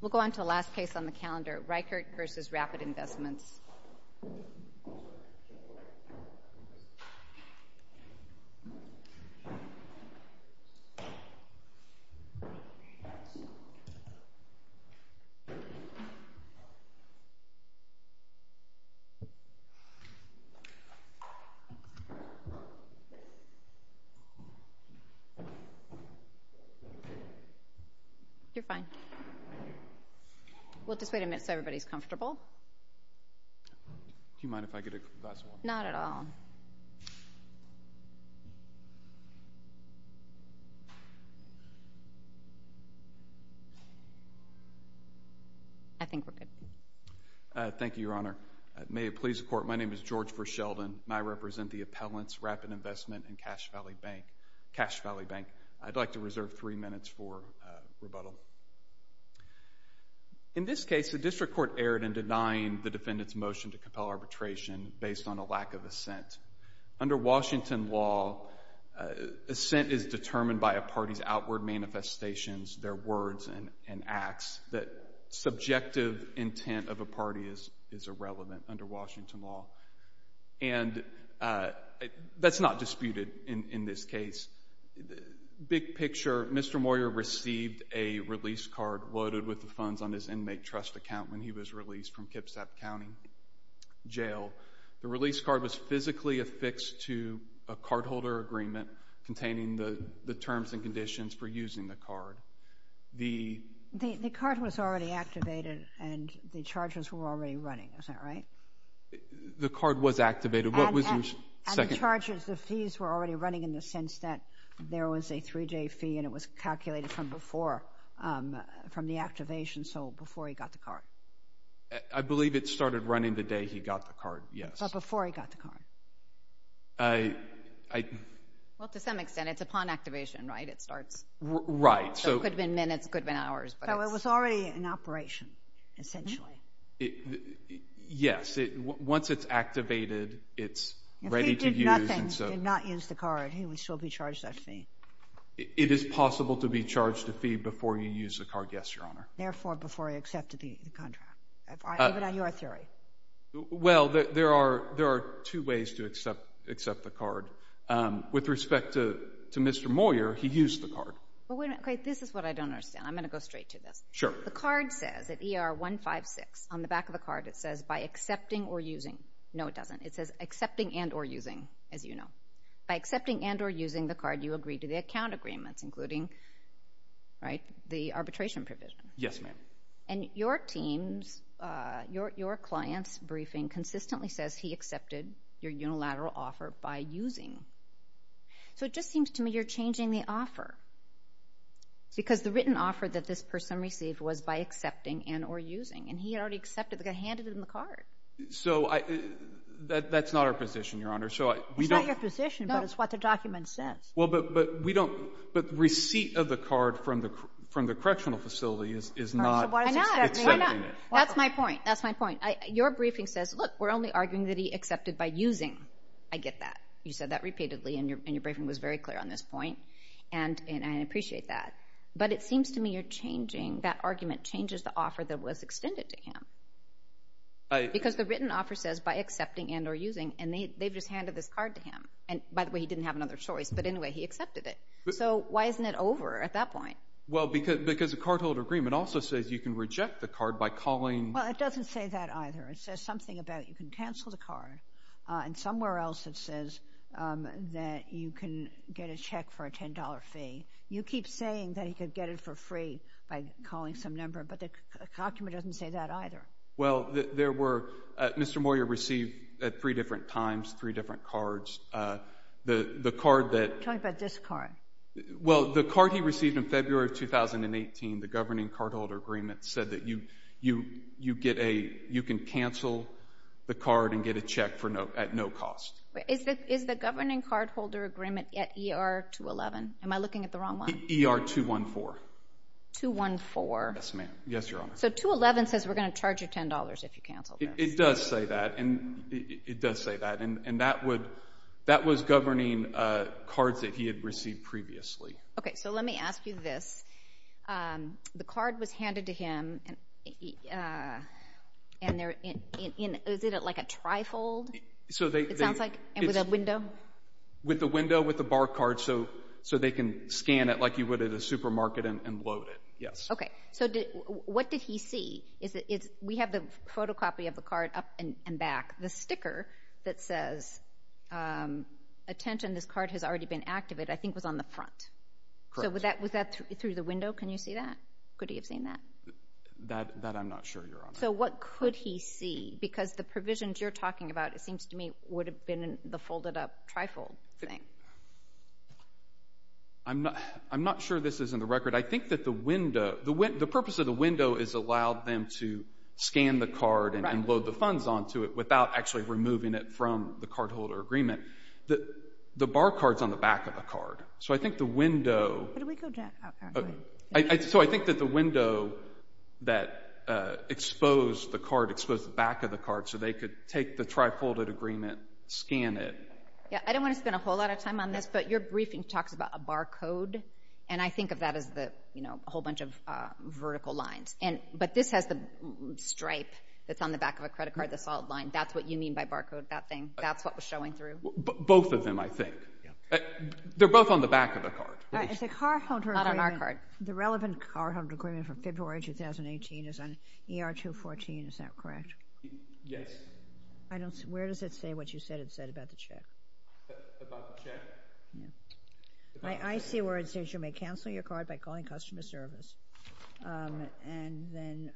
We'll go on to the last case on the calendar, Reichert v. Rapid Investments. You're fine. We'll just wait a minute so everybody's comfortable. Do you mind if I get a glass of water? Not at all. I think we're good. Thank you, Your Honor. May it please the Court, my name is George Verschelden, and I represent the Appellants, Rapid Investment, and Cash Valley Bank. I'd like to reserve three minutes for rebuttal. In this case, the District Court erred in denying the defendant's motion to compel arbitration based on a lack of assent. Under Washington law, assent is determined by a party's outward manifestations, their words and acts, that subjective intent of a party is irrelevant, under Washington law. And that's not disputed in this case. Big picture, Mr. Moyer received a release card loaded with the funds on his inmate trust account when he was released from Kipsap County Jail. The release card was physically affixed to a cardholder agreement containing the terms and conditions for using the card. The card was already activated and the charges were already running, is that right? The card was activated. What was your second? And the charges, the fees were already running in the sense that there was a three-day fee and it was calculated from before, from the activation, so before he got the card. I believe it started running the day he got the card, yes. But before he got the card. Well, to some extent. It's upon activation, right? It starts. Right. So it could have been minutes, it could have been hours. So it was already in operation, essentially. Yes. Once it's activated, it's ready to use. If he did nothing, did not use the card, he would still be charged that fee. It is possible to be charged a fee before you use the card, yes, Your Honor. Therefore, before he accepted the contract, even on your theory. Well, there are two ways to accept the card. With respect to Mr. Moyer, he used the card. Okay, this is what I don't understand. I'm going to go straight to this. Sure. The card says at ER 156, on the back of the card, it says, by accepting or using. No, it doesn't. It says accepting and or using, as you know. By accepting and or using the card, you agree to the account agreements, including the arbitration provision. Yes, ma'am. And your team's, your client's briefing consistently says he accepted your unilateral offer by using. So it just seems to me you're changing the offer because the written offer that this person received was by accepting and or using. And he had already accepted, but got handed him the card. So that's not our position, Your Honor. It's not your position, but it's what the document says. Well, but we don't, but receipt of the card from the correctional facility is not accepting it. That's my point. That's my point. Your briefing says, look, we're only arguing that he accepted by using. I get that. You said that repeatedly, and your briefing was very clear on this point. And I appreciate that. But it seems to me you're changing, that argument changes the offer that was extended to him. Because the written offer says by accepting and or using, and they've just handed this card to him. And, by the way, he didn't have another choice. But anyway, he accepted it. So why isn't it over at that point? Well, because the cardholder agreement also says you can reject the card by calling. Well, it doesn't say that either. It says something about you can cancel the card. And somewhere else it says that you can get a check for a $10 fee. You keep saying that he could get it for free by calling some number, but the document doesn't say that either. Well, there were – Mr. Moyer received at three different times three different cards. The card that – I'm talking about this card. Well, the card he received in February of 2018, the governing cardholder agreement, said that you can cancel the card and get a check at no cost. Is the governing cardholder agreement at ER-211? Am I looking at the wrong one? ER-214. 214. Yes, ma'am. Yes, Your Honor. So 211 says we're going to charge you $10 if you cancel this. It does say that, and that was governing cards that he had received previously. Okay, so let me ask you this. The card was handed to him, and is it like a trifold, it sounds like, with a window? With a window with a bar card so they can scan it like you would at a supermarket and load it, yes. Okay. So what did he see? We have the photocopy of the card up and back. The sticker that says, attention, this card has already been activated, I think was on the front. Correct. So was that through the window? Can you see that? Could he have seen that? That I'm not sure, Your Honor. So what could he see? Because the provisions you're talking about, it seems to me, would have been the folded up trifold thing. I'm not sure this is in the record. I think that the purpose of the window is allowed them to scan the card and load the funds onto it without actually removing it from the cardholder agreement. The bar card is on the back of the card. So I think the window that exposed the back of the card so they could take the trifolded agreement, scan it. I don't want to spend a whole lot of time on this, but your briefing talks about a bar code, and I think of that as a whole bunch of vertical lines. But this has the stripe that's on the back of a credit card, the solid line. That's what you mean by bar code, that thing? That's what was showing through? Both of them, I think. They're both on the back of the card. It's a cardholder agreement. Not on our card. The relevant cardholder agreement for February 2018 is on ER 214. Is that correct? Yes. Where does it say what you said it said about the check? About the check? I see where it says you may cancel your card by calling customer service, and then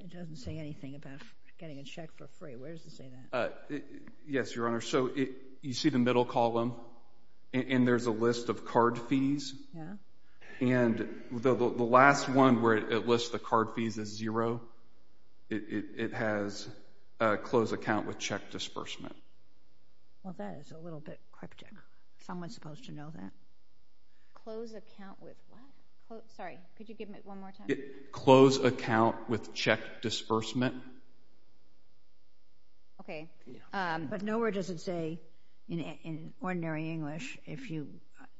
it doesn't say anything about getting a check for free. Where does it say that? Yes, Your Honor. So you see the middle column, and there's a list of card fees. And the last one where it lists the card fees as zero, it has close account with check disbursement. Well, that is a little bit cryptic. Someone's supposed to know that. Close account with what? Sorry, could you give it one more time? Close account with check disbursement. Okay. But nowhere does it say in ordinary English, if you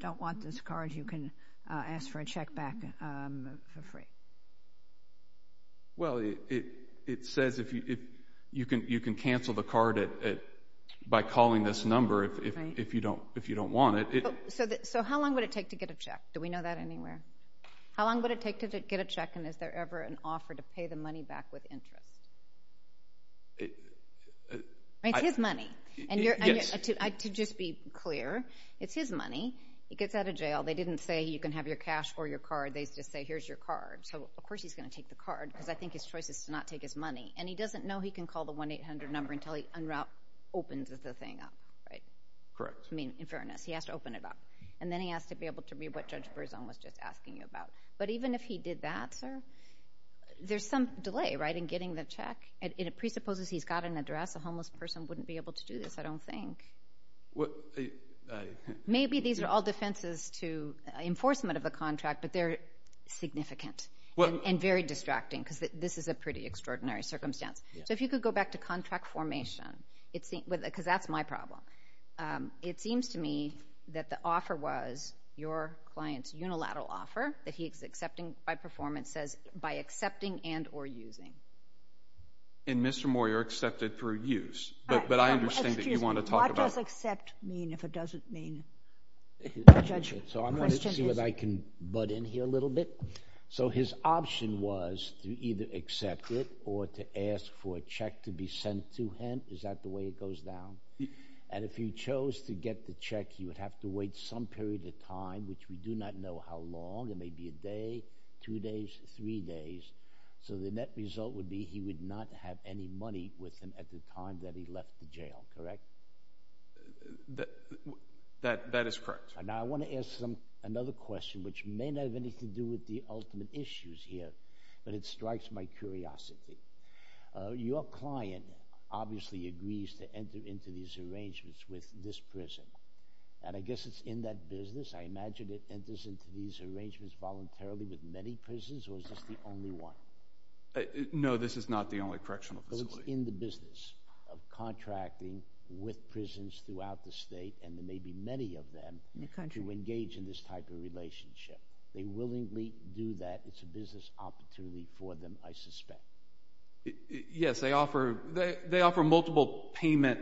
don't want this card, you can ask for a check back for free. Well, it says you can cancel the card by calling this number if you don't want it. So how long would it take to get a check? Do we know that anywhere? How long would it take to get a check, and is there ever an offer to pay the money back with interest? It's his money. Yes. To just be clear, it's his money. He gets out of jail. They didn't say you can have your cash or your card. They just say here's your card. So, of course, he's going to take the card, because I think his choice is to not take his money. And he doesn't know he can call the 1-800 number until he opens the thing up, right? Correct. I mean, in fairness. He has to open it up. And then he has to be able to read what Judge Berzon was just asking about. But even if he did that, sir, there's some delay in getting the check. And it presupposes he's got an address. A homeless person wouldn't be able to do this, I don't think. Maybe these are all defenses to enforcement of a contract, but they're significant and very distracting, because this is a pretty extraordinary circumstance. So if you could go back to contract formation, because that's my problem. It seems to me that the offer was your client's unilateral offer, that he's accepting by performance says by accepting and or using. And Mr. Moyer accepted for use. But I understand that you want to talk about that. What does accept mean if it doesn't mean? So I'm going to see if I can butt in here a little bit. So his option was to either accept it or to ask for a check to be sent to him. Is that the way it goes down? And if he chose to get the check, he would have to wait some period of time, which we do not know how long. It may be a day, two days, three days. So the net result would be he would not have any money with him at the time that he left the jail, correct? That is correct. Now I want to ask another question, which may not have anything to do with the ultimate issues here, but it strikes my curiosity. Your client obviously agrees to enter into these arrangements with this prison. And I guess it's in that business. I imagine it enters into these arrangements voluntarily with many prisons, or is this the only one? No, this is not the only correctional facility. So it's in the business of contracting with prisons throughout the state and maybe many of them in the country who engage in this type of relationship. They willingly do that. It's a business opportunity for them, I suspect. Yes, they offer multiple payment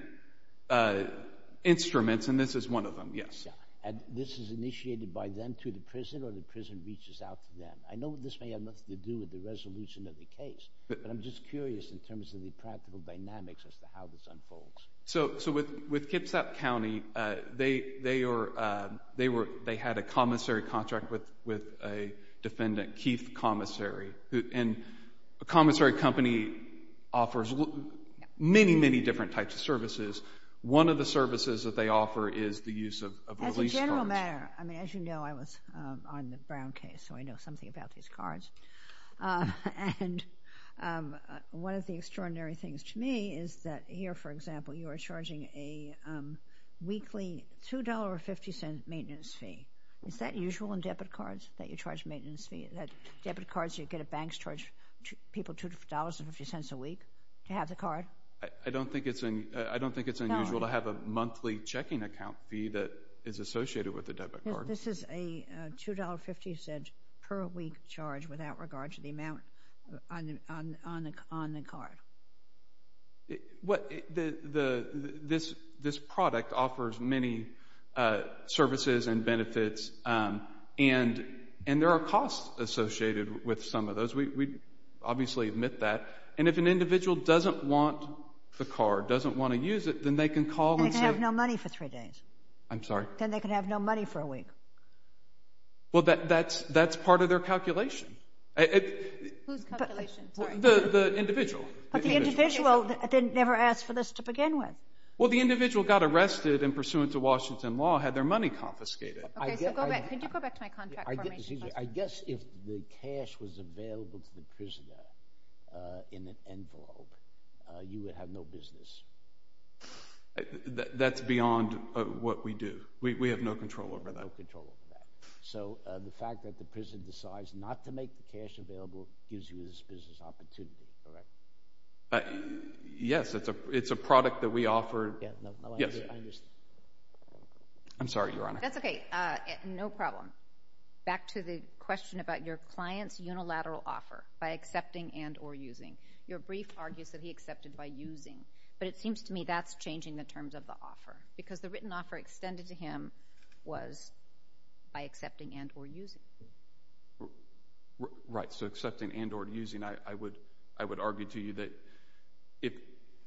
instruments, and this is one of them, yes. And this is initiated by them to the prison or the prison reaches out to them? I know this may have nothing to do with the resolution of the case, but I'm just curious in terms of the practical dynamics as to how this unfolds. So with Kipsap County, they had a commissary contract with a defendant, Keith Commissary. And the commissary company offers many, many different types of services. One of the services that they offer is the use of release cards. As a general matter, I mean, as you know, I was on the Brown case, so I know something about these cards. And one of the extraordinary things to me is that here, for example, you are charging a weekly $2.50 maintenance fee. Is that usual in debit cards that you charge maintenance fees? That debit cards you get at banks charge people $2.50 a week to have the card? I don't think it's unusual to have a monthly checking account fee that is associated with a debit card. This is a $2.50 per week charge without regard to the amount on the card. This product offers many services and benefits, and there are costs associated with some of those. We obviously admit that. And if an individual doesn't want the card, doesn't want to use it, then they can call and say— They can have no money for three days. I'm sorry? Then they can have no money for a week. Well, that's part of their calculation. Whose calculation? Sorry. The individual. But the individual never asked for this to begin with. Well, the individual got arrested and, pursuant to Washington law, had their money confiscated. Could you go back to my contract information? I guess if the cash was available to the prisoner in an envelope, you would have no business. That's beyond what we do. We have no control over that. No control over that. So the fact that the prisoner decides not to make the cash available gives you this business opportunity, correct? Yes, it's a product that we offer. Yes, I understand. I'm sorry, Your Honor. That's okay. No problem. Back to the question about your client's unilateral offer, by accepting and or using. Your brief argues that he accepted by using, but it seems to me that's changing the terms of the offer because the written offer extended to him was by accepting and or using. Right. So accepting and or using. I would argue to you that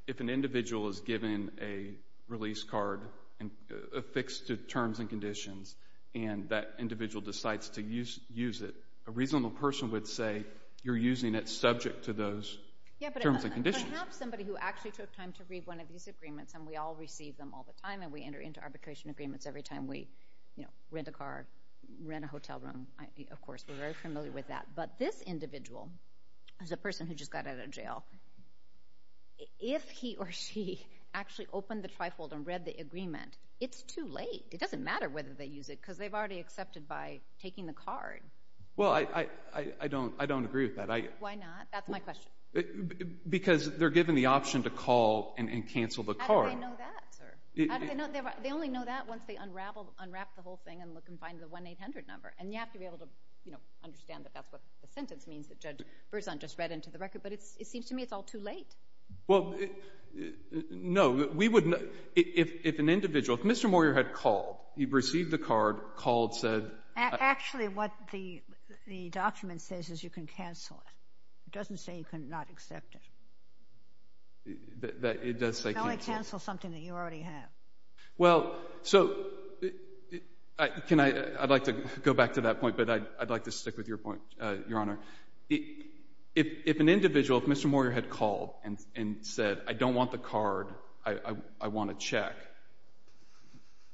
if an individual is given a release card affixed to terms and conditions and that individual decides to use it, a reasonable person would say you're using it subject to those terms and conditions. I have somebody who actually took time to read one of these agreements, and we all receive them all the time, and we enter into arbitration agreements every time we rent a car, or rent a hotel room, of course. We're very familiar with that. But this individual is a person who just got out of jail. If he or she actually opened the trifold and read the agreement, it's too late. It doesn't matter whether they use it because they've already accepted by taking the card. Well, I don't agree with that. Why not? That's my question. How do they know that, sir? They only know that once they unwrap the whole thing and look and find the 1-800 number, and you have to be able to understand that that's what the sentence means that Judge Berzon just read into the record, but it seems to me it's all too late. Well, no. If an individual, if Mr. Moyer had called, he received the card, called, said— Actually, what the document says is you can cancel it. It doesn't say you cannot accept it. It does say cancel. You can only cancel something that you already have. Well, so I'd like to go back to that point, but I'd like to stick with your point, Your Honor. If an individual, if Mr. Moyer had called and said, I don't want the card, I want a check,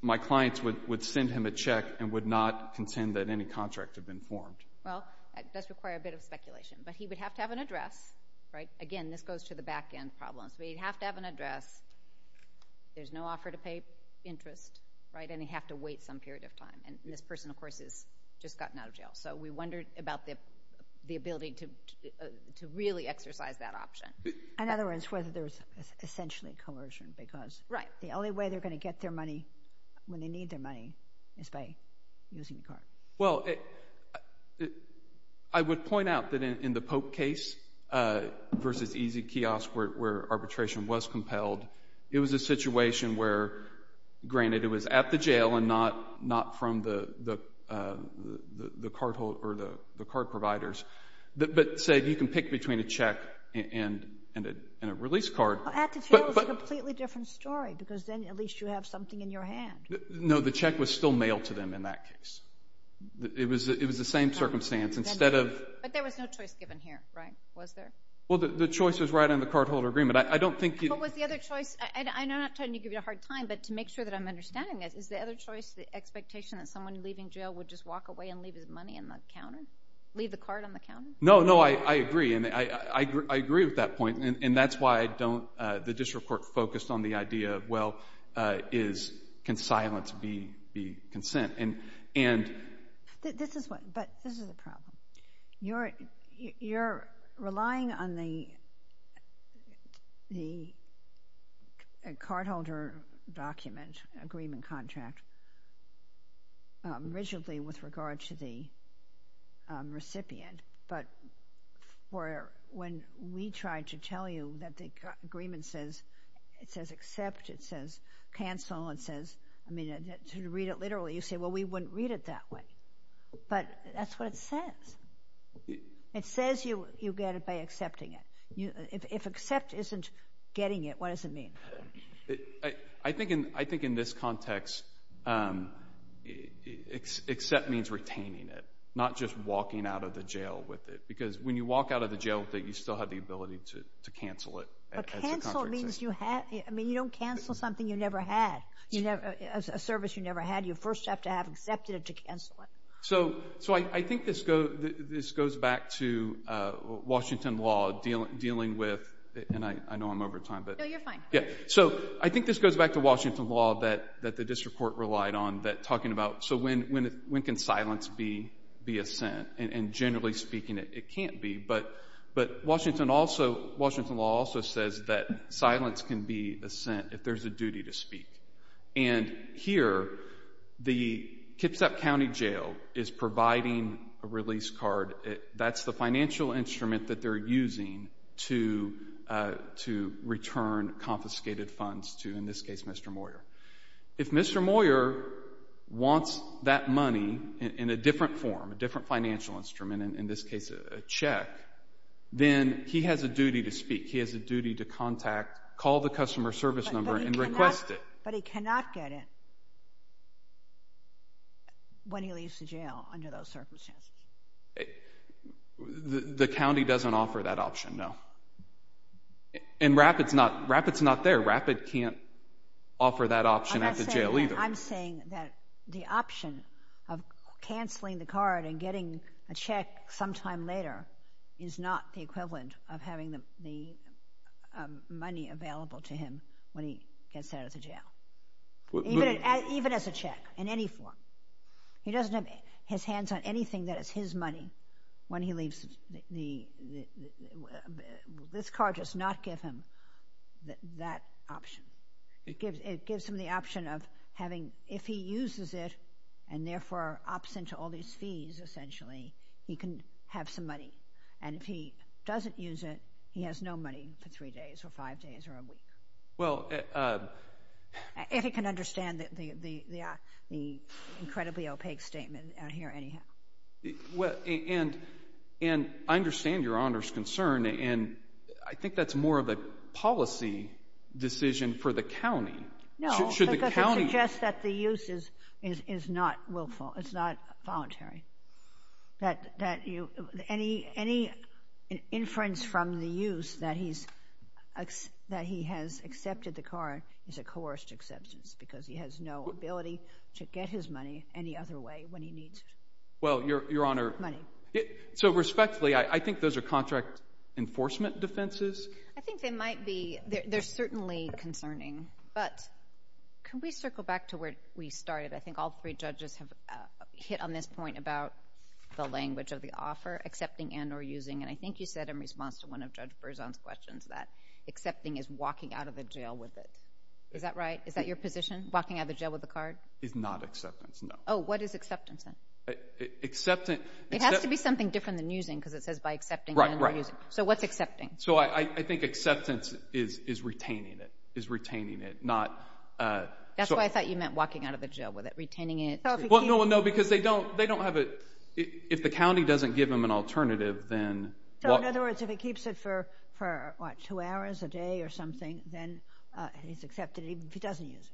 my clients would send him a check and would not contend that any contract had been formed. Well, that does require a bit of speculation, but he would have to have an address, right? That's one of the back-end problems. He'd have to have an address. There's no offer to pay interest, right? And he'd have to wait some period of time. And this person, of course, has just gotten out of jail. So we wonder about the ability to really exercise that option. In other words, whether there's essentially coercion because the only way they're going to get their money when they need their money is by using the card. Well, I would point out that in the Pope case versus Easy Kiosk where arbitration was compelled, it was a situation where, granted, it was at the jail and not from the cardholders or the card providers, but, say, you can pick between a check and a release card. At the jail is a completely different story because then at least you have something in your hand. No, the check was still mailed to them in that case. It was the same circumstance. But there was no choice given here, right? Was there? Well, the choice was right on the cardholder agreement. I don't think... But was the other choice... I'm not trying to give you a hard time, but to make sure that I'm understanding this, is the other choice the expectation that someone leaving jail would just walk away and leave his money on the counter? Leave the card on the counter? No, no, I agree. I agree with that point. And that's why the district court focused on the idea of, well, can silence be consent? But this is the problem. You're relying on the cardholder document agreement contract rigidly with regard to the recipient, but when we try to tell you that the agreement says accept, it says cancel, it says... Well, we wouldn't read it that way, but that's what it says. It says you get it by accepting it. If accept isn't getting it, what does it mean? I think in this context, accept means retaining it, not just walking out of the jail with it, because when you walk out of the jail with it, you still have the ability to cancel it. But cancel means you have... I mean, you don't cancel something you never had, a service you never had. You first have to have accepted it to cancel it. So I think this goes back to Washington law dealing with... And I know I'm over time, but... No, you're fine. So I think this goes back to Washington law that the district court relied on, that talking about, so when can silence be assent? And generally speaking, it can't be. But Washington law also says that silence can be assent if there's a duty to speak. And here, the Kitsap County Jail is providing a release card. That's the financial instrument that they're using to return confiscated funds to, in this case, Mr. Moyer. If Mr. Moyer wants that money in a different form, a different financial instrument, in this case a check, then he has a duty to speak. He has a duty to contact, call the customer service number and request it. But he cannot get it when he leaves the jail under those circumstances. The county doesn't offer that option, no. And Rapid's not there. Rapid can't offer that option at the jail either. I'm not saying that. I'm saying that the option of canceling the card and getting a check sometime later is not the equivalent of having the money available to him when he gets out of the jail. Even as a check, in any form. He doesn't have his hands on anything that is his money when he leaves the... This card does not give him that option. It gives him the option of having, if he uses it and therefore opts into all these fees, essentially, he can have some money. And if he doesn't use it, he has no money for three days or five days or a week. If he can understand the incredibly opaque statement here anyhow. And I understand Your Honor's concern. And I think that's more of a policy decision for the county. No, because it suggests that the use is not willful. It's not voluntary. That any inference from the use that he has accepted the card is a coerced acceptance because he has no ability to get his money any other way when he needs money. Well, Your Honor, so respectfully, I think those are contract enforcement defenses. I think they might be. They're certainly concerning. But can we circle back to where we started? I think all three judges have hit on this point about the language of the offer, accepting and or using. And I think you said in response to one of Judge Berzon's questions that accepting is walking out of the jail with it. Is that right? Is that your position, walking out of the jail with the card? It's not acceptance, no. Oh, what is acceptance then? It has to be something different than using because it says by accepting and or using. So what's accepting? So I think acceptance is retaining it. That's why I thought you meant walking out of the jail with it, retaining it. Well, no, because they don't have it. If the county doesn't give them an alternative, then what? So in other words, if he keeps it for, what, two hours a day or something, then he's accepted even if he doesn't use it.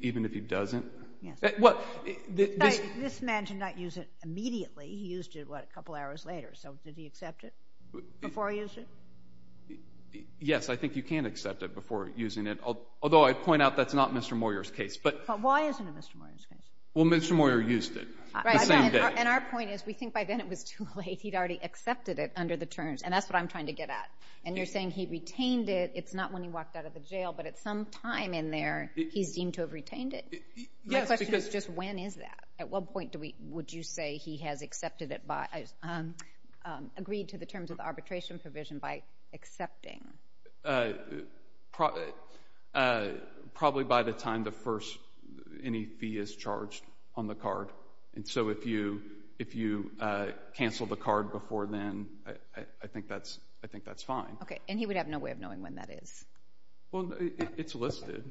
Even if he doesn't? Yes. This man did not use it immediately. He used it, what, a couple hours later. So did he accept it before he used it? Yes, I think you can accept it before using it, although I'd point out that's not Mr. Moyer's case. But why isn't it Mr. Moyer's case? Well, Mr. Moyer used it the same day. And our point is we think by then it was too late. He'd already accepted it under the terms, and that's what I'm trying to get at. And you're saying he retained it. It's not when he walked out of the jail, but at some time in there he's deemed to have retained it. My question is just when is that? At what point would you say he has accepted it, agreed to the terms of the arbitration provision by accepting? Probably by the time any fee is charged on the card. And so if you cancel the card before then, I think that's fine. Okay, and he would have no way of knowing when that is. Well, it's listed.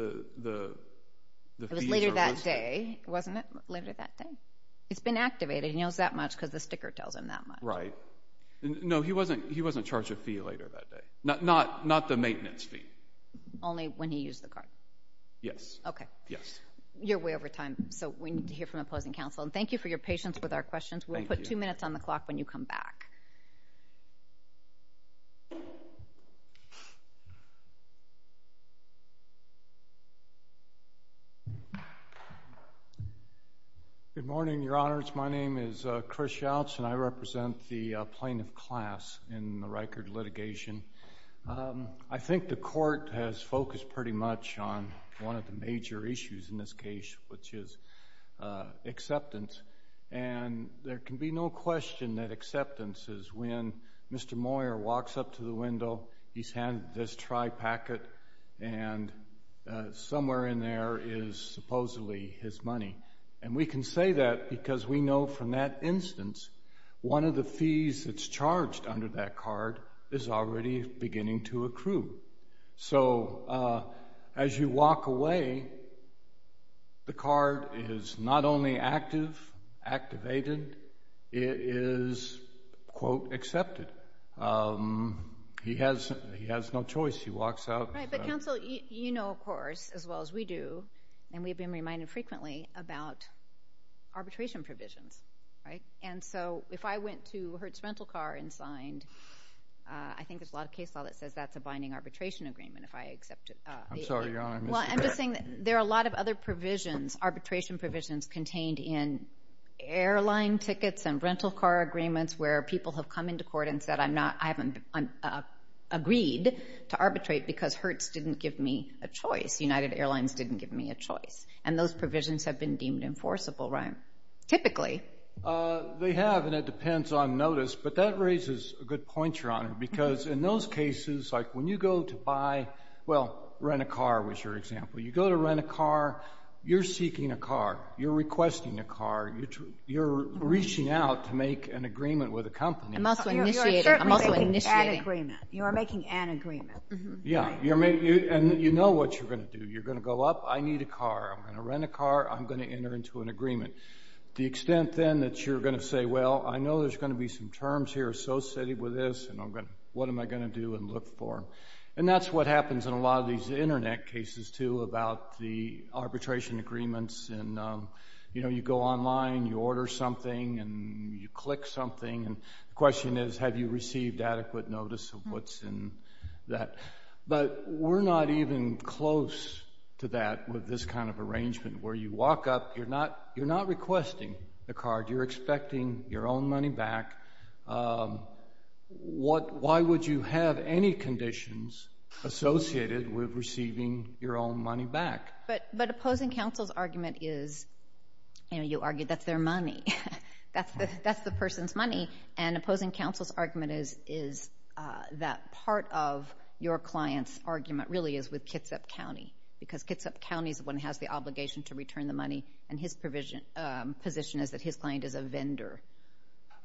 It was later that day, wasn't it? Later that day. It's been activated. He knows that much because the sticker tells him that much. Right. No, he wasn't charged a fee later that day. Not the maintenance fee. Only when he used the card. Yes. Okay. Yes. You're way over time, so we need to hear from opposing counsel. And thank you for your patience with our questions. We'll put two minutes on the clock when you come back. Good morning, Your Honors. Thank you very much. My name is Chris Shouts, and I represent the plaintiff class in the Rikert litigation. I think the court has focused pretty much on one of the major issues in this case, which is acceptance. And there can be no question that acceptance is when Mr. Moyer walks up to the window, he's handed this tri-packet, and somewhere in there is supposedly his money. And we can say that because we know from that instance one of the fees that's charged under that card is already beginning to accrue. So as you walk away, the card is not only active, activated, it is, quote, accepted. He has no choice. He walks out. Right. But, counsel, you know, of course, as well as we do, and we've been reminded frequently about arbitration provisions, right? And so if I went to Hertz Rental Car and signed, I think there's a lot of case law that says that's a binding arbitration agreement if I accept it. I'm sorry, Your Honor, I missed you there. Well, I'm just saying that there are a lot of other provisions, arbitration provisions contained in airline tickets and rental car agreements where people have come into court and said I haven't agreed to arbitrate because Hertz didn't give me a choice. United Airlines didn't give me a choice. And those provisions have been deemed enforceable, right? Typically. They have, and it depends on notice, but that raises a good point, Your Honor, because in those cases, like when you go to buy, well, rent a car was your example. You go to rent a car. You're seeking a car. You're requesting a car. You're reaching out to make an agreement with a company. I'm also initiating. You're certainly making an agreement. You are making an agreement. Yeah, and you know what you're going to do. You're going to go up. I need a car. I'm going to rent a car. I'm going to enter into an agreement. The extent then that you're going to say, well, I know there's going to be some terms here associated with this, and what am I going to do and look for? And that's what happens in a lot of these Internet cases, too, about the arbitration agreements. You know, you go online, you order something, and you click something, and the question is have you received adequate notice of what's in that. But we're not even close to that with this kind of arrangement where you walk up. You're not requesting a car. You're expecting your own money back. Why would you have any conditions associated with receiving your own money back? But opposing counsel's argument is, you know, you argued that's their money. That's the person's money, and opposing counsel's argument is that part of your client's argument really is with Kitsap County because Kitsap County is the one that has the obligation to return the money, and his position is that his client is a vendor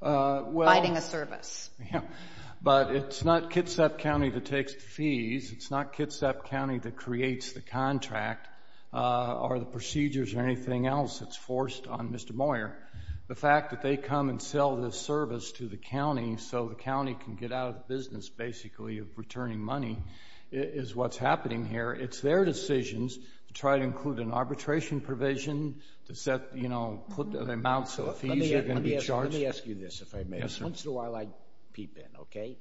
providing a service. But it's not Kitsap County that takes the fees. It's not Kitsap County that creates the contract or the procedures or anything else that's forced on Mr. Moyer. The fact that they come and sell this service to the county so the county can get out of the business basically of returning money is what's happening here. It's their decisions to try to include an arbitration provision to set, you know, put the amounts of fees they're going to be charged. Let me ask you this, if I may. Yes, sir. Once in a while I peep in, okay?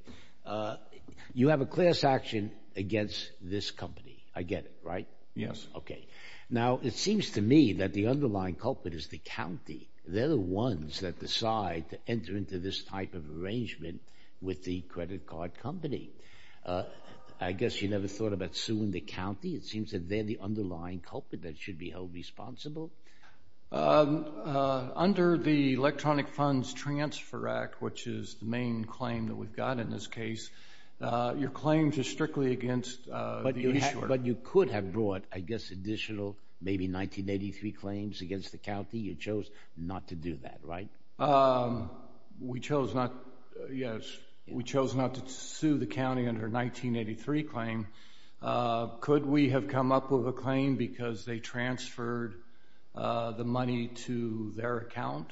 You have a class action against this company. I get it, right? Yes. Okay. Now, it seems to me that the underlying culprit is the county. They're the ones that decide to enter into this type of arrangement with the credit card company. I guess you never thought about suing the county. It seems that they're the underlying culprit that should be held responsible. Under the Electronic Funds Transfer Act, which is the main claim that we've got in this case, your claims are strictly against the insurer. But you could have brought, I guess, additional maybe 1983 claims against the county. You chose not to do that, right? We chose not to sue the county under a 1983 claim. Could we have come up with a claim because they transferred the money to their account?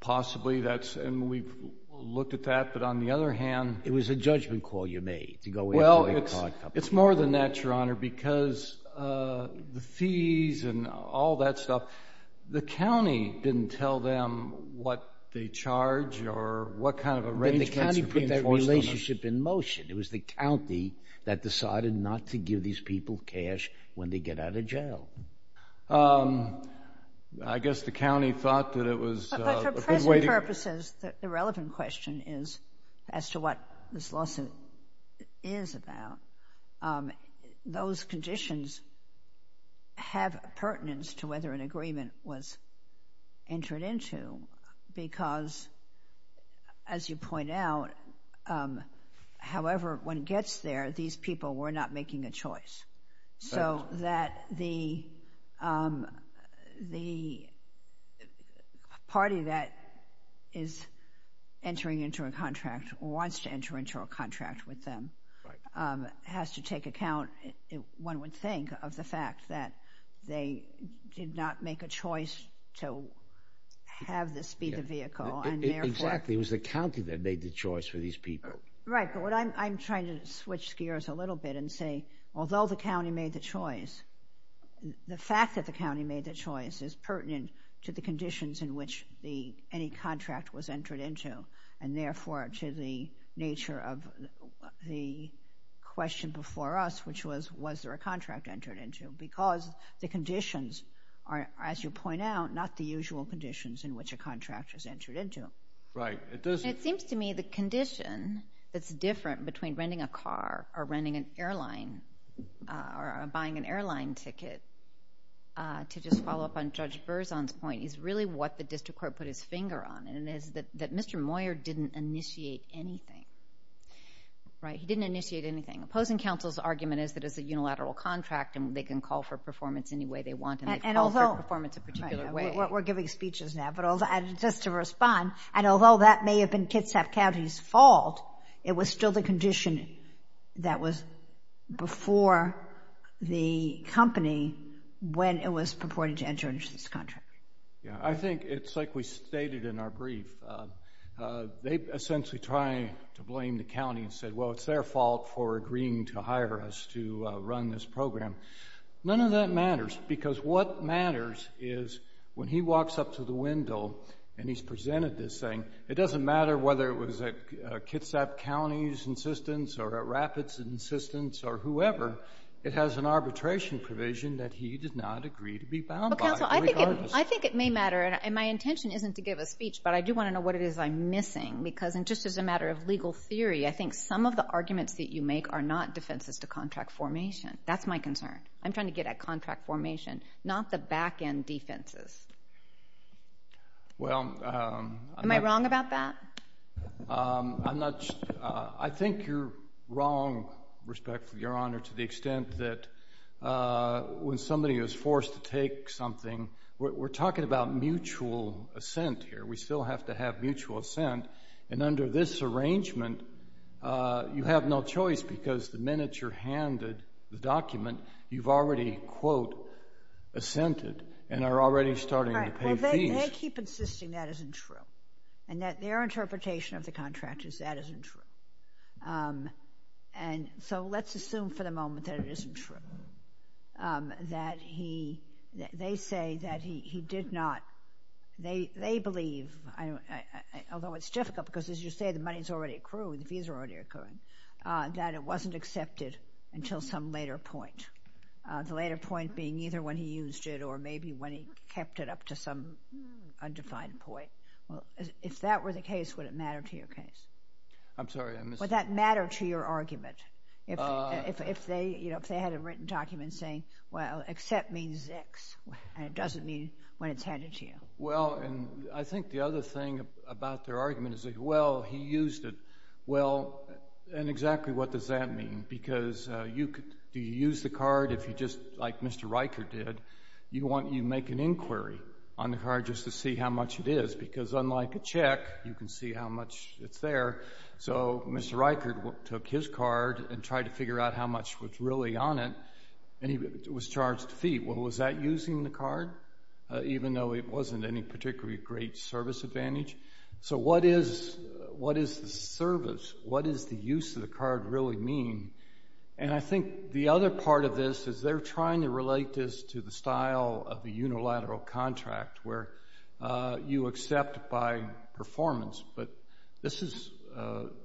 Possibly that's, and we've looked at that, but on the other hand. It was a judgment call you made to go into the credit card company. Well, it's more than that, Your Honor, because the fees and all that stuff, the county didn't tell them what they charge or what kind of arrangements were being enforced on them. It was the county that decided not to give these people cash when they get out of jail. I guess the county thought that it was a good way to... But for present purposes, the relevant question is, as to what this lawsuit is about, those conditions have pertinence to whether an agreement was entered into because, as you point out, however, when it gets there, these people were not making a choice. So that the party that is entering into a contract or wants to enter into a contract with them has to take account, one would think, of the fact that they did not make a choice to have the speed of vehicle. Exactly, it was the county that made the choice for these people. Right, but what I'm trying to switch gears a little bit and say, although the county made the choice, the fact that the county made the choice is pertinent to the conditions in which any contract was entered into and therefore to the nature of the question before us, which was, was there a contract entered into? Because the conditions are, as you point out, not the usual conditions in which a contract is entered into. It seems to me the condition that's different between renting a car or renting an airline or buying an airline ticket, to just follow up on Judge Berzon's point, is really what the district court put its finger on, and it is that Mr. Moyer didn't initiate anything. He didn't initiate anything. Opposing counsel's argument is that it's a unilateral contract and they can call for performance any way they want and they call for performance a particular way. We're giving speeches now, but just to respond, and although that may have been Kitsap County's fault, it was still the condition that was before the company when it was purported to enter into this contract. Yeah, I think it's like we stated in our brief. They essentially try to blame the county and say, well, it's their fault for agreeing to hire us to run this program. None of that matters, because what matters is when he walks up to the window and he's presented this thing, it doesn't matter whether it was at Kitsap County's insistence or at Rapid's insistence or whoever, it has an arbitration provision that he did not agree to be found by. Counsel, I think it may matter, and my intention isn't to give a speech, but I do want to know what it is I'm missing, because just as a matter of legal theory, I think some of the arguments that you make are not defenses to contract formation. That's my concern. I'm trying to get at contract formation, not the back-end defenses. Am I wrong about that? I'm not sure. I think you're wrong, respectfully, Your Honor, to the extent that when somebody is forced to take something, we're talking about mutual assent here. We still have to have mutual assent, and under this arrangement, you have no choice, because the minute you're handed the document, you've already, quote, assented and are already starting to pay fees. They keep insisting that isn't true, and that their interpretation of the contract is that isn't true. And so let's assume for the moment that it isn't true, that they say that he did not. They believe, although it's difficult because, as you say, the money has already accrued, the fees are already accruing, that it wasn't accepted until some later point, the later point being either when he used it or maybe when he kept it up to some undefined point. If that were the case, would it matter to your case? I'm sorry. Would that matter to your argument if they had a written document saying, well, accept means X, and it doesn't mean when it's handed to you? Well, and I think the other thing about their argument is, well, he used it. Well, and exactly what does that mean? Because do you use the card if you just, like Mr. Riker did, you make an inquiry on the card just to see how much it is? Because unlike a check, you can see how much is there. So Mr. Riker took his card and tried to figure out how much was really on it, and he was charged a fee. Well, was that using the card, even though it wasn't any particularly great service advantage? So what is the service? What does the use of the card really mean? And I think the other part of this is they're trying to relate this to the style of the unilateral contract, where you accept by performance, but this is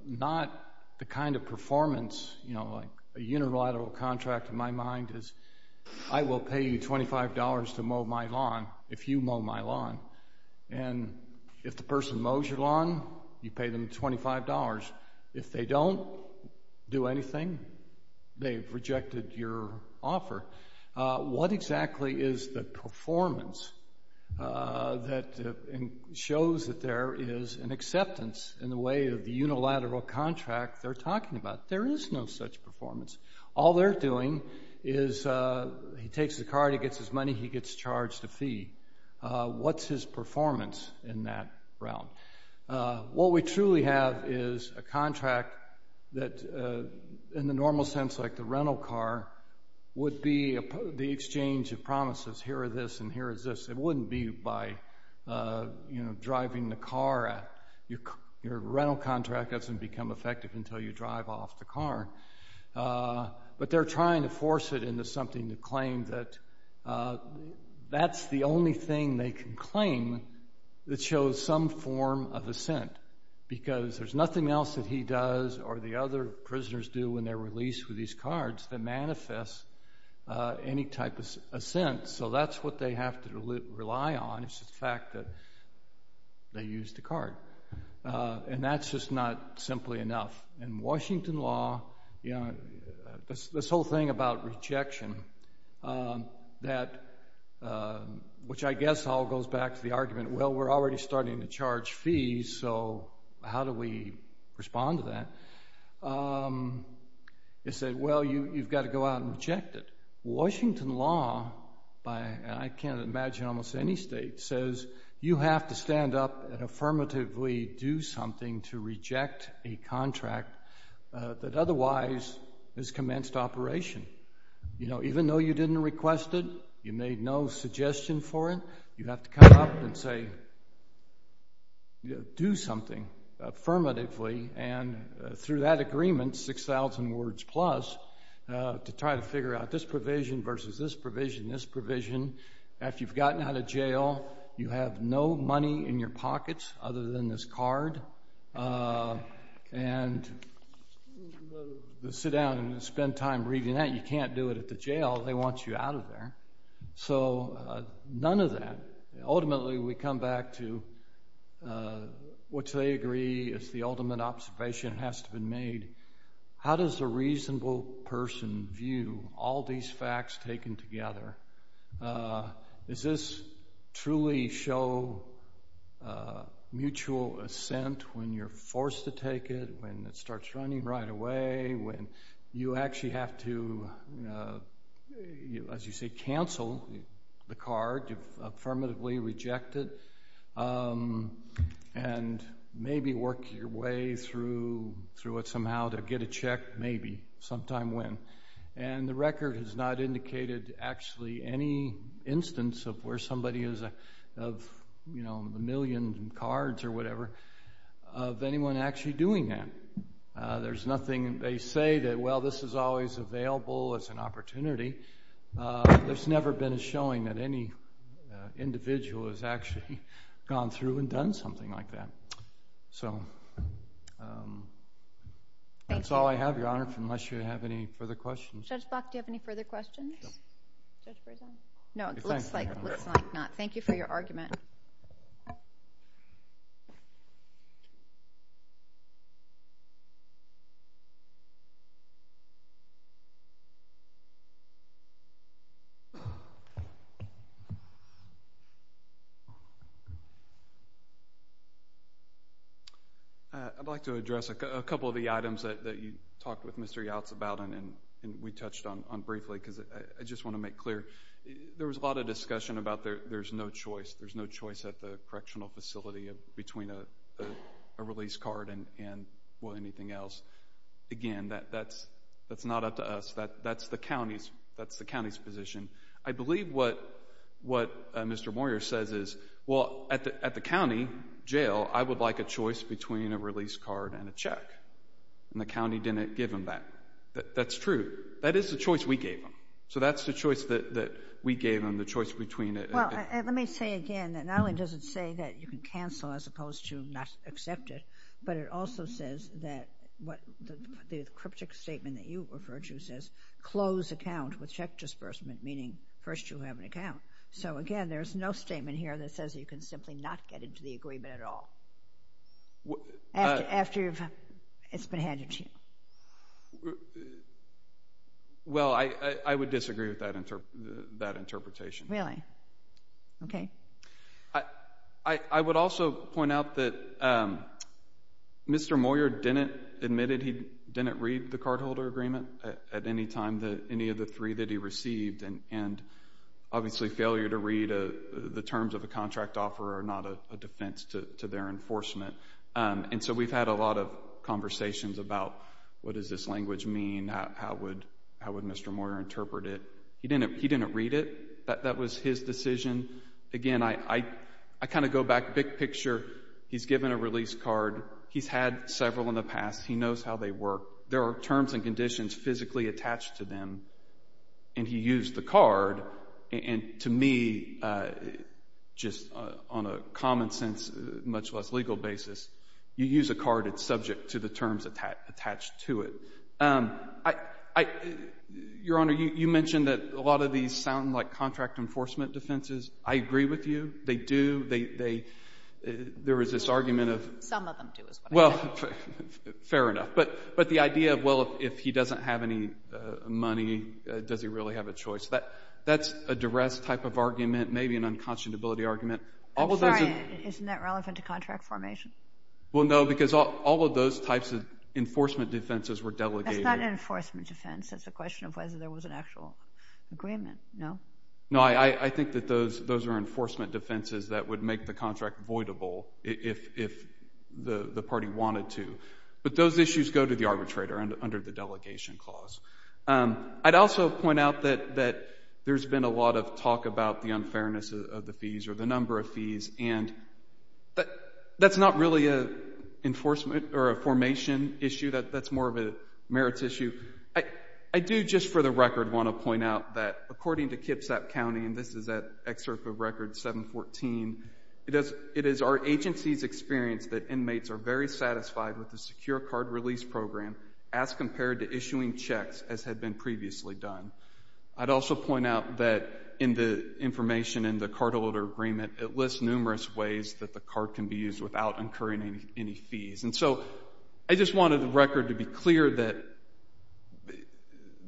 not the kind of performance, you know, like a unilateral contract in my mind is I will pay you $25 to mow my lawn if you mow my lawn. And if the person mows your lawn, you pay them $25. If they don't do anything, they've rejected your offer. What exactly is the performance that shows that there is an acceptance in the way of the unilateral contract they're talking about? There is no such performance. All they're doing is he takes the card, he gets his money, he gets charged a fee. What's his performance in that realm? What we truly have is a contract that in the normal sense like the rental car would be the exchange of promises. Here are this and here is this. It wouldn't be by, you know, driving the car. Your rental contract doesn't become effective until you drive off the car. But they're trying to force it into something to claim that that's the only thing they can claim that shows some form of assent because there's nothing else that he does or the other prisoners do when they're released with these cards that manifests any type of assent. So that's what they have to rely on is the fact that they use the card. And that's just not simply enough. In Washington law, you know, this whole thing about rejection, which I guess all goes back to the argument, well, we're already starting to charge fees, so how do we respond to that? They said, well, you've got to go out and reject it. Washington law, and I can't imagine almost any state, says you have to stand up and affirmatively do something to reject a contract that otherwise has commenced operation. You know, even though you didn't request it, you made no suggestion for it, you have to come up and say do something affirmatively and through that agreement, 6,000 words plus, to try to figure out this provision versus this provision, this provision. After you've gotten out of jail, you have no money in your pockets other than this card. And to sit down and spend time reading that, you can't do it at the jail. They want you out of there. So none of that. Ultimately, we come back to what they agree is the ultimate observation has to be made. How does a reasonable person view all these facts taken together? Does this truly show mutual assent when you're forced to take it, when it starts running right away, when you actually have to, as you say, cancel the card, affirmatively reject it, and maybe work your way through it somehow to get a check, maybe, sometime when. And the record has not indicated actually any instance of where somebody is, of a million cards or whatever, of anyone actually doing that. There's nothing they say that, well, this is always available as an opportunity. There's never been a showing that any individual has actually gone through and done something like that. So that's all I have, Your Honor, unless you have any further questions. Judge Block, do you have any further questions? No, it looks like not. Thank you for your argument. I'd like to address a couple of the items that you talked with Mr. Yautz about, and we touched on briefly, because I just want to make clear there was a lot of discussion about there's no choice. There's no choice at the correctional facility between a release card and, well, anything else. Again, that's not up to us. That's the county's position. I believe what Mr. Moyer says is, well, at the county jail, I would like a choice between a release card and a check. And the county didn't give them that. That's true. That is the choice we gave them. So that's the choice that we gave them, the choice between it. Well, let me say again that not only does it say that you can cancel as opposed to not accept it, but it also says that the cryptic statement that you referred to says, close account with check disbursement, meaning first you have an account. So, again, there's no statement here that says you can simply not get into the agreement at all after it's been handed to you. Well, I would disagree with that interpretation. Really? Okay. I would also point out that Mr. Moyer admitted he didn't read the cardholder agreement at any time, any of the three that he received, and obviously failure to read the terms of a contract offer are not a defense to their enforcement. And so we've had a lot of conversations about what does this language mean, how would Mr. Moyer interpret it. He didn't read it. That was his decision. Again, I kind of go back big picture. He's given a release card. He's had several in the past. He knows how they work. There are terms and conditions physically attached to them, and he used the card. And to me, just on a common sense, much less legal basis, you use a card that's subject to the terms attached to it. Your Honor, you mentioned that a lot of these sound like contract enforcement defenses. I agree with you. They do. There is this argument of— Some of them do is what I think. Well, fair enough. But the idea of, well, if he doesn't have any money, does he really have a choice, that's a duress type of argument, maybe an unconscionability argument. I'm sorry. Isn't that relevant to contract formation? Well, no, because all of those types of enforcement defenses were delegated. That's not an enforcement defense. That's a question of whether there was an actual agreement, no? No, I think that those are enforcement defenses that would make the contract voidable if the party wanted to. But those issues go to the arbitrator under the delegation clause. I'd also point out that there's been a lot of talk about the unfairness of the fees or the number of fees, and that's not really an enforcement or a formation issue. That's more of a merits issue. I do just for the record want to point out that according to Kipsap County, and this is an excerpt of Record 714, it is our agency's experience that inmates are very satisfied with the secure card release program as compared to issuing checks as had been previously done. I'd also point out that in the information in the cardholder agreement, it lists numerous ways that the card can be used without incurring any fees. And so I just wanted the record to be clear that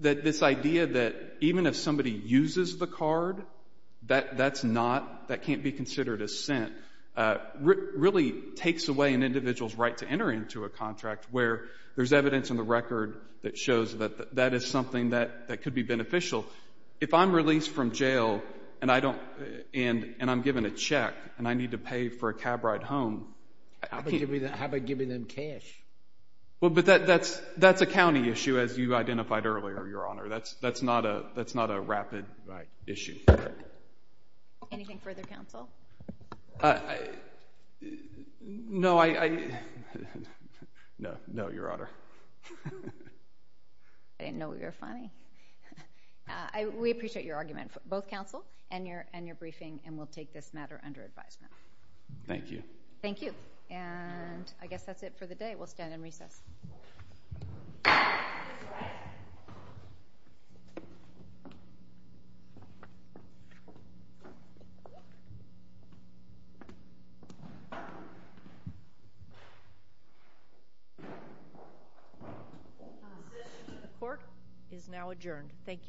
this idea that even if somebody uses the card, that's not, that can't be considered a sin really takes away an individual's right to enter into a contract where there's evidence in the record that shows that that is something that could be beneficial. If I'm released from jail and I'm given a check and I need to pay for a cab ride home, I can't. How about giving them cash? Well, but that's a county issue, as you identified earlier, Your Honor. That's not a rapid issue. Anything further, counsel? No, Your Honor. I didn't know you were funny. We appreciate your argument, both counsel and your briefing, and we'll take this matter under advisement. Thank you. Thank you. And I guess that's it for the day. We'll stand in recess. The decision of the court is now adjourned. Thank you.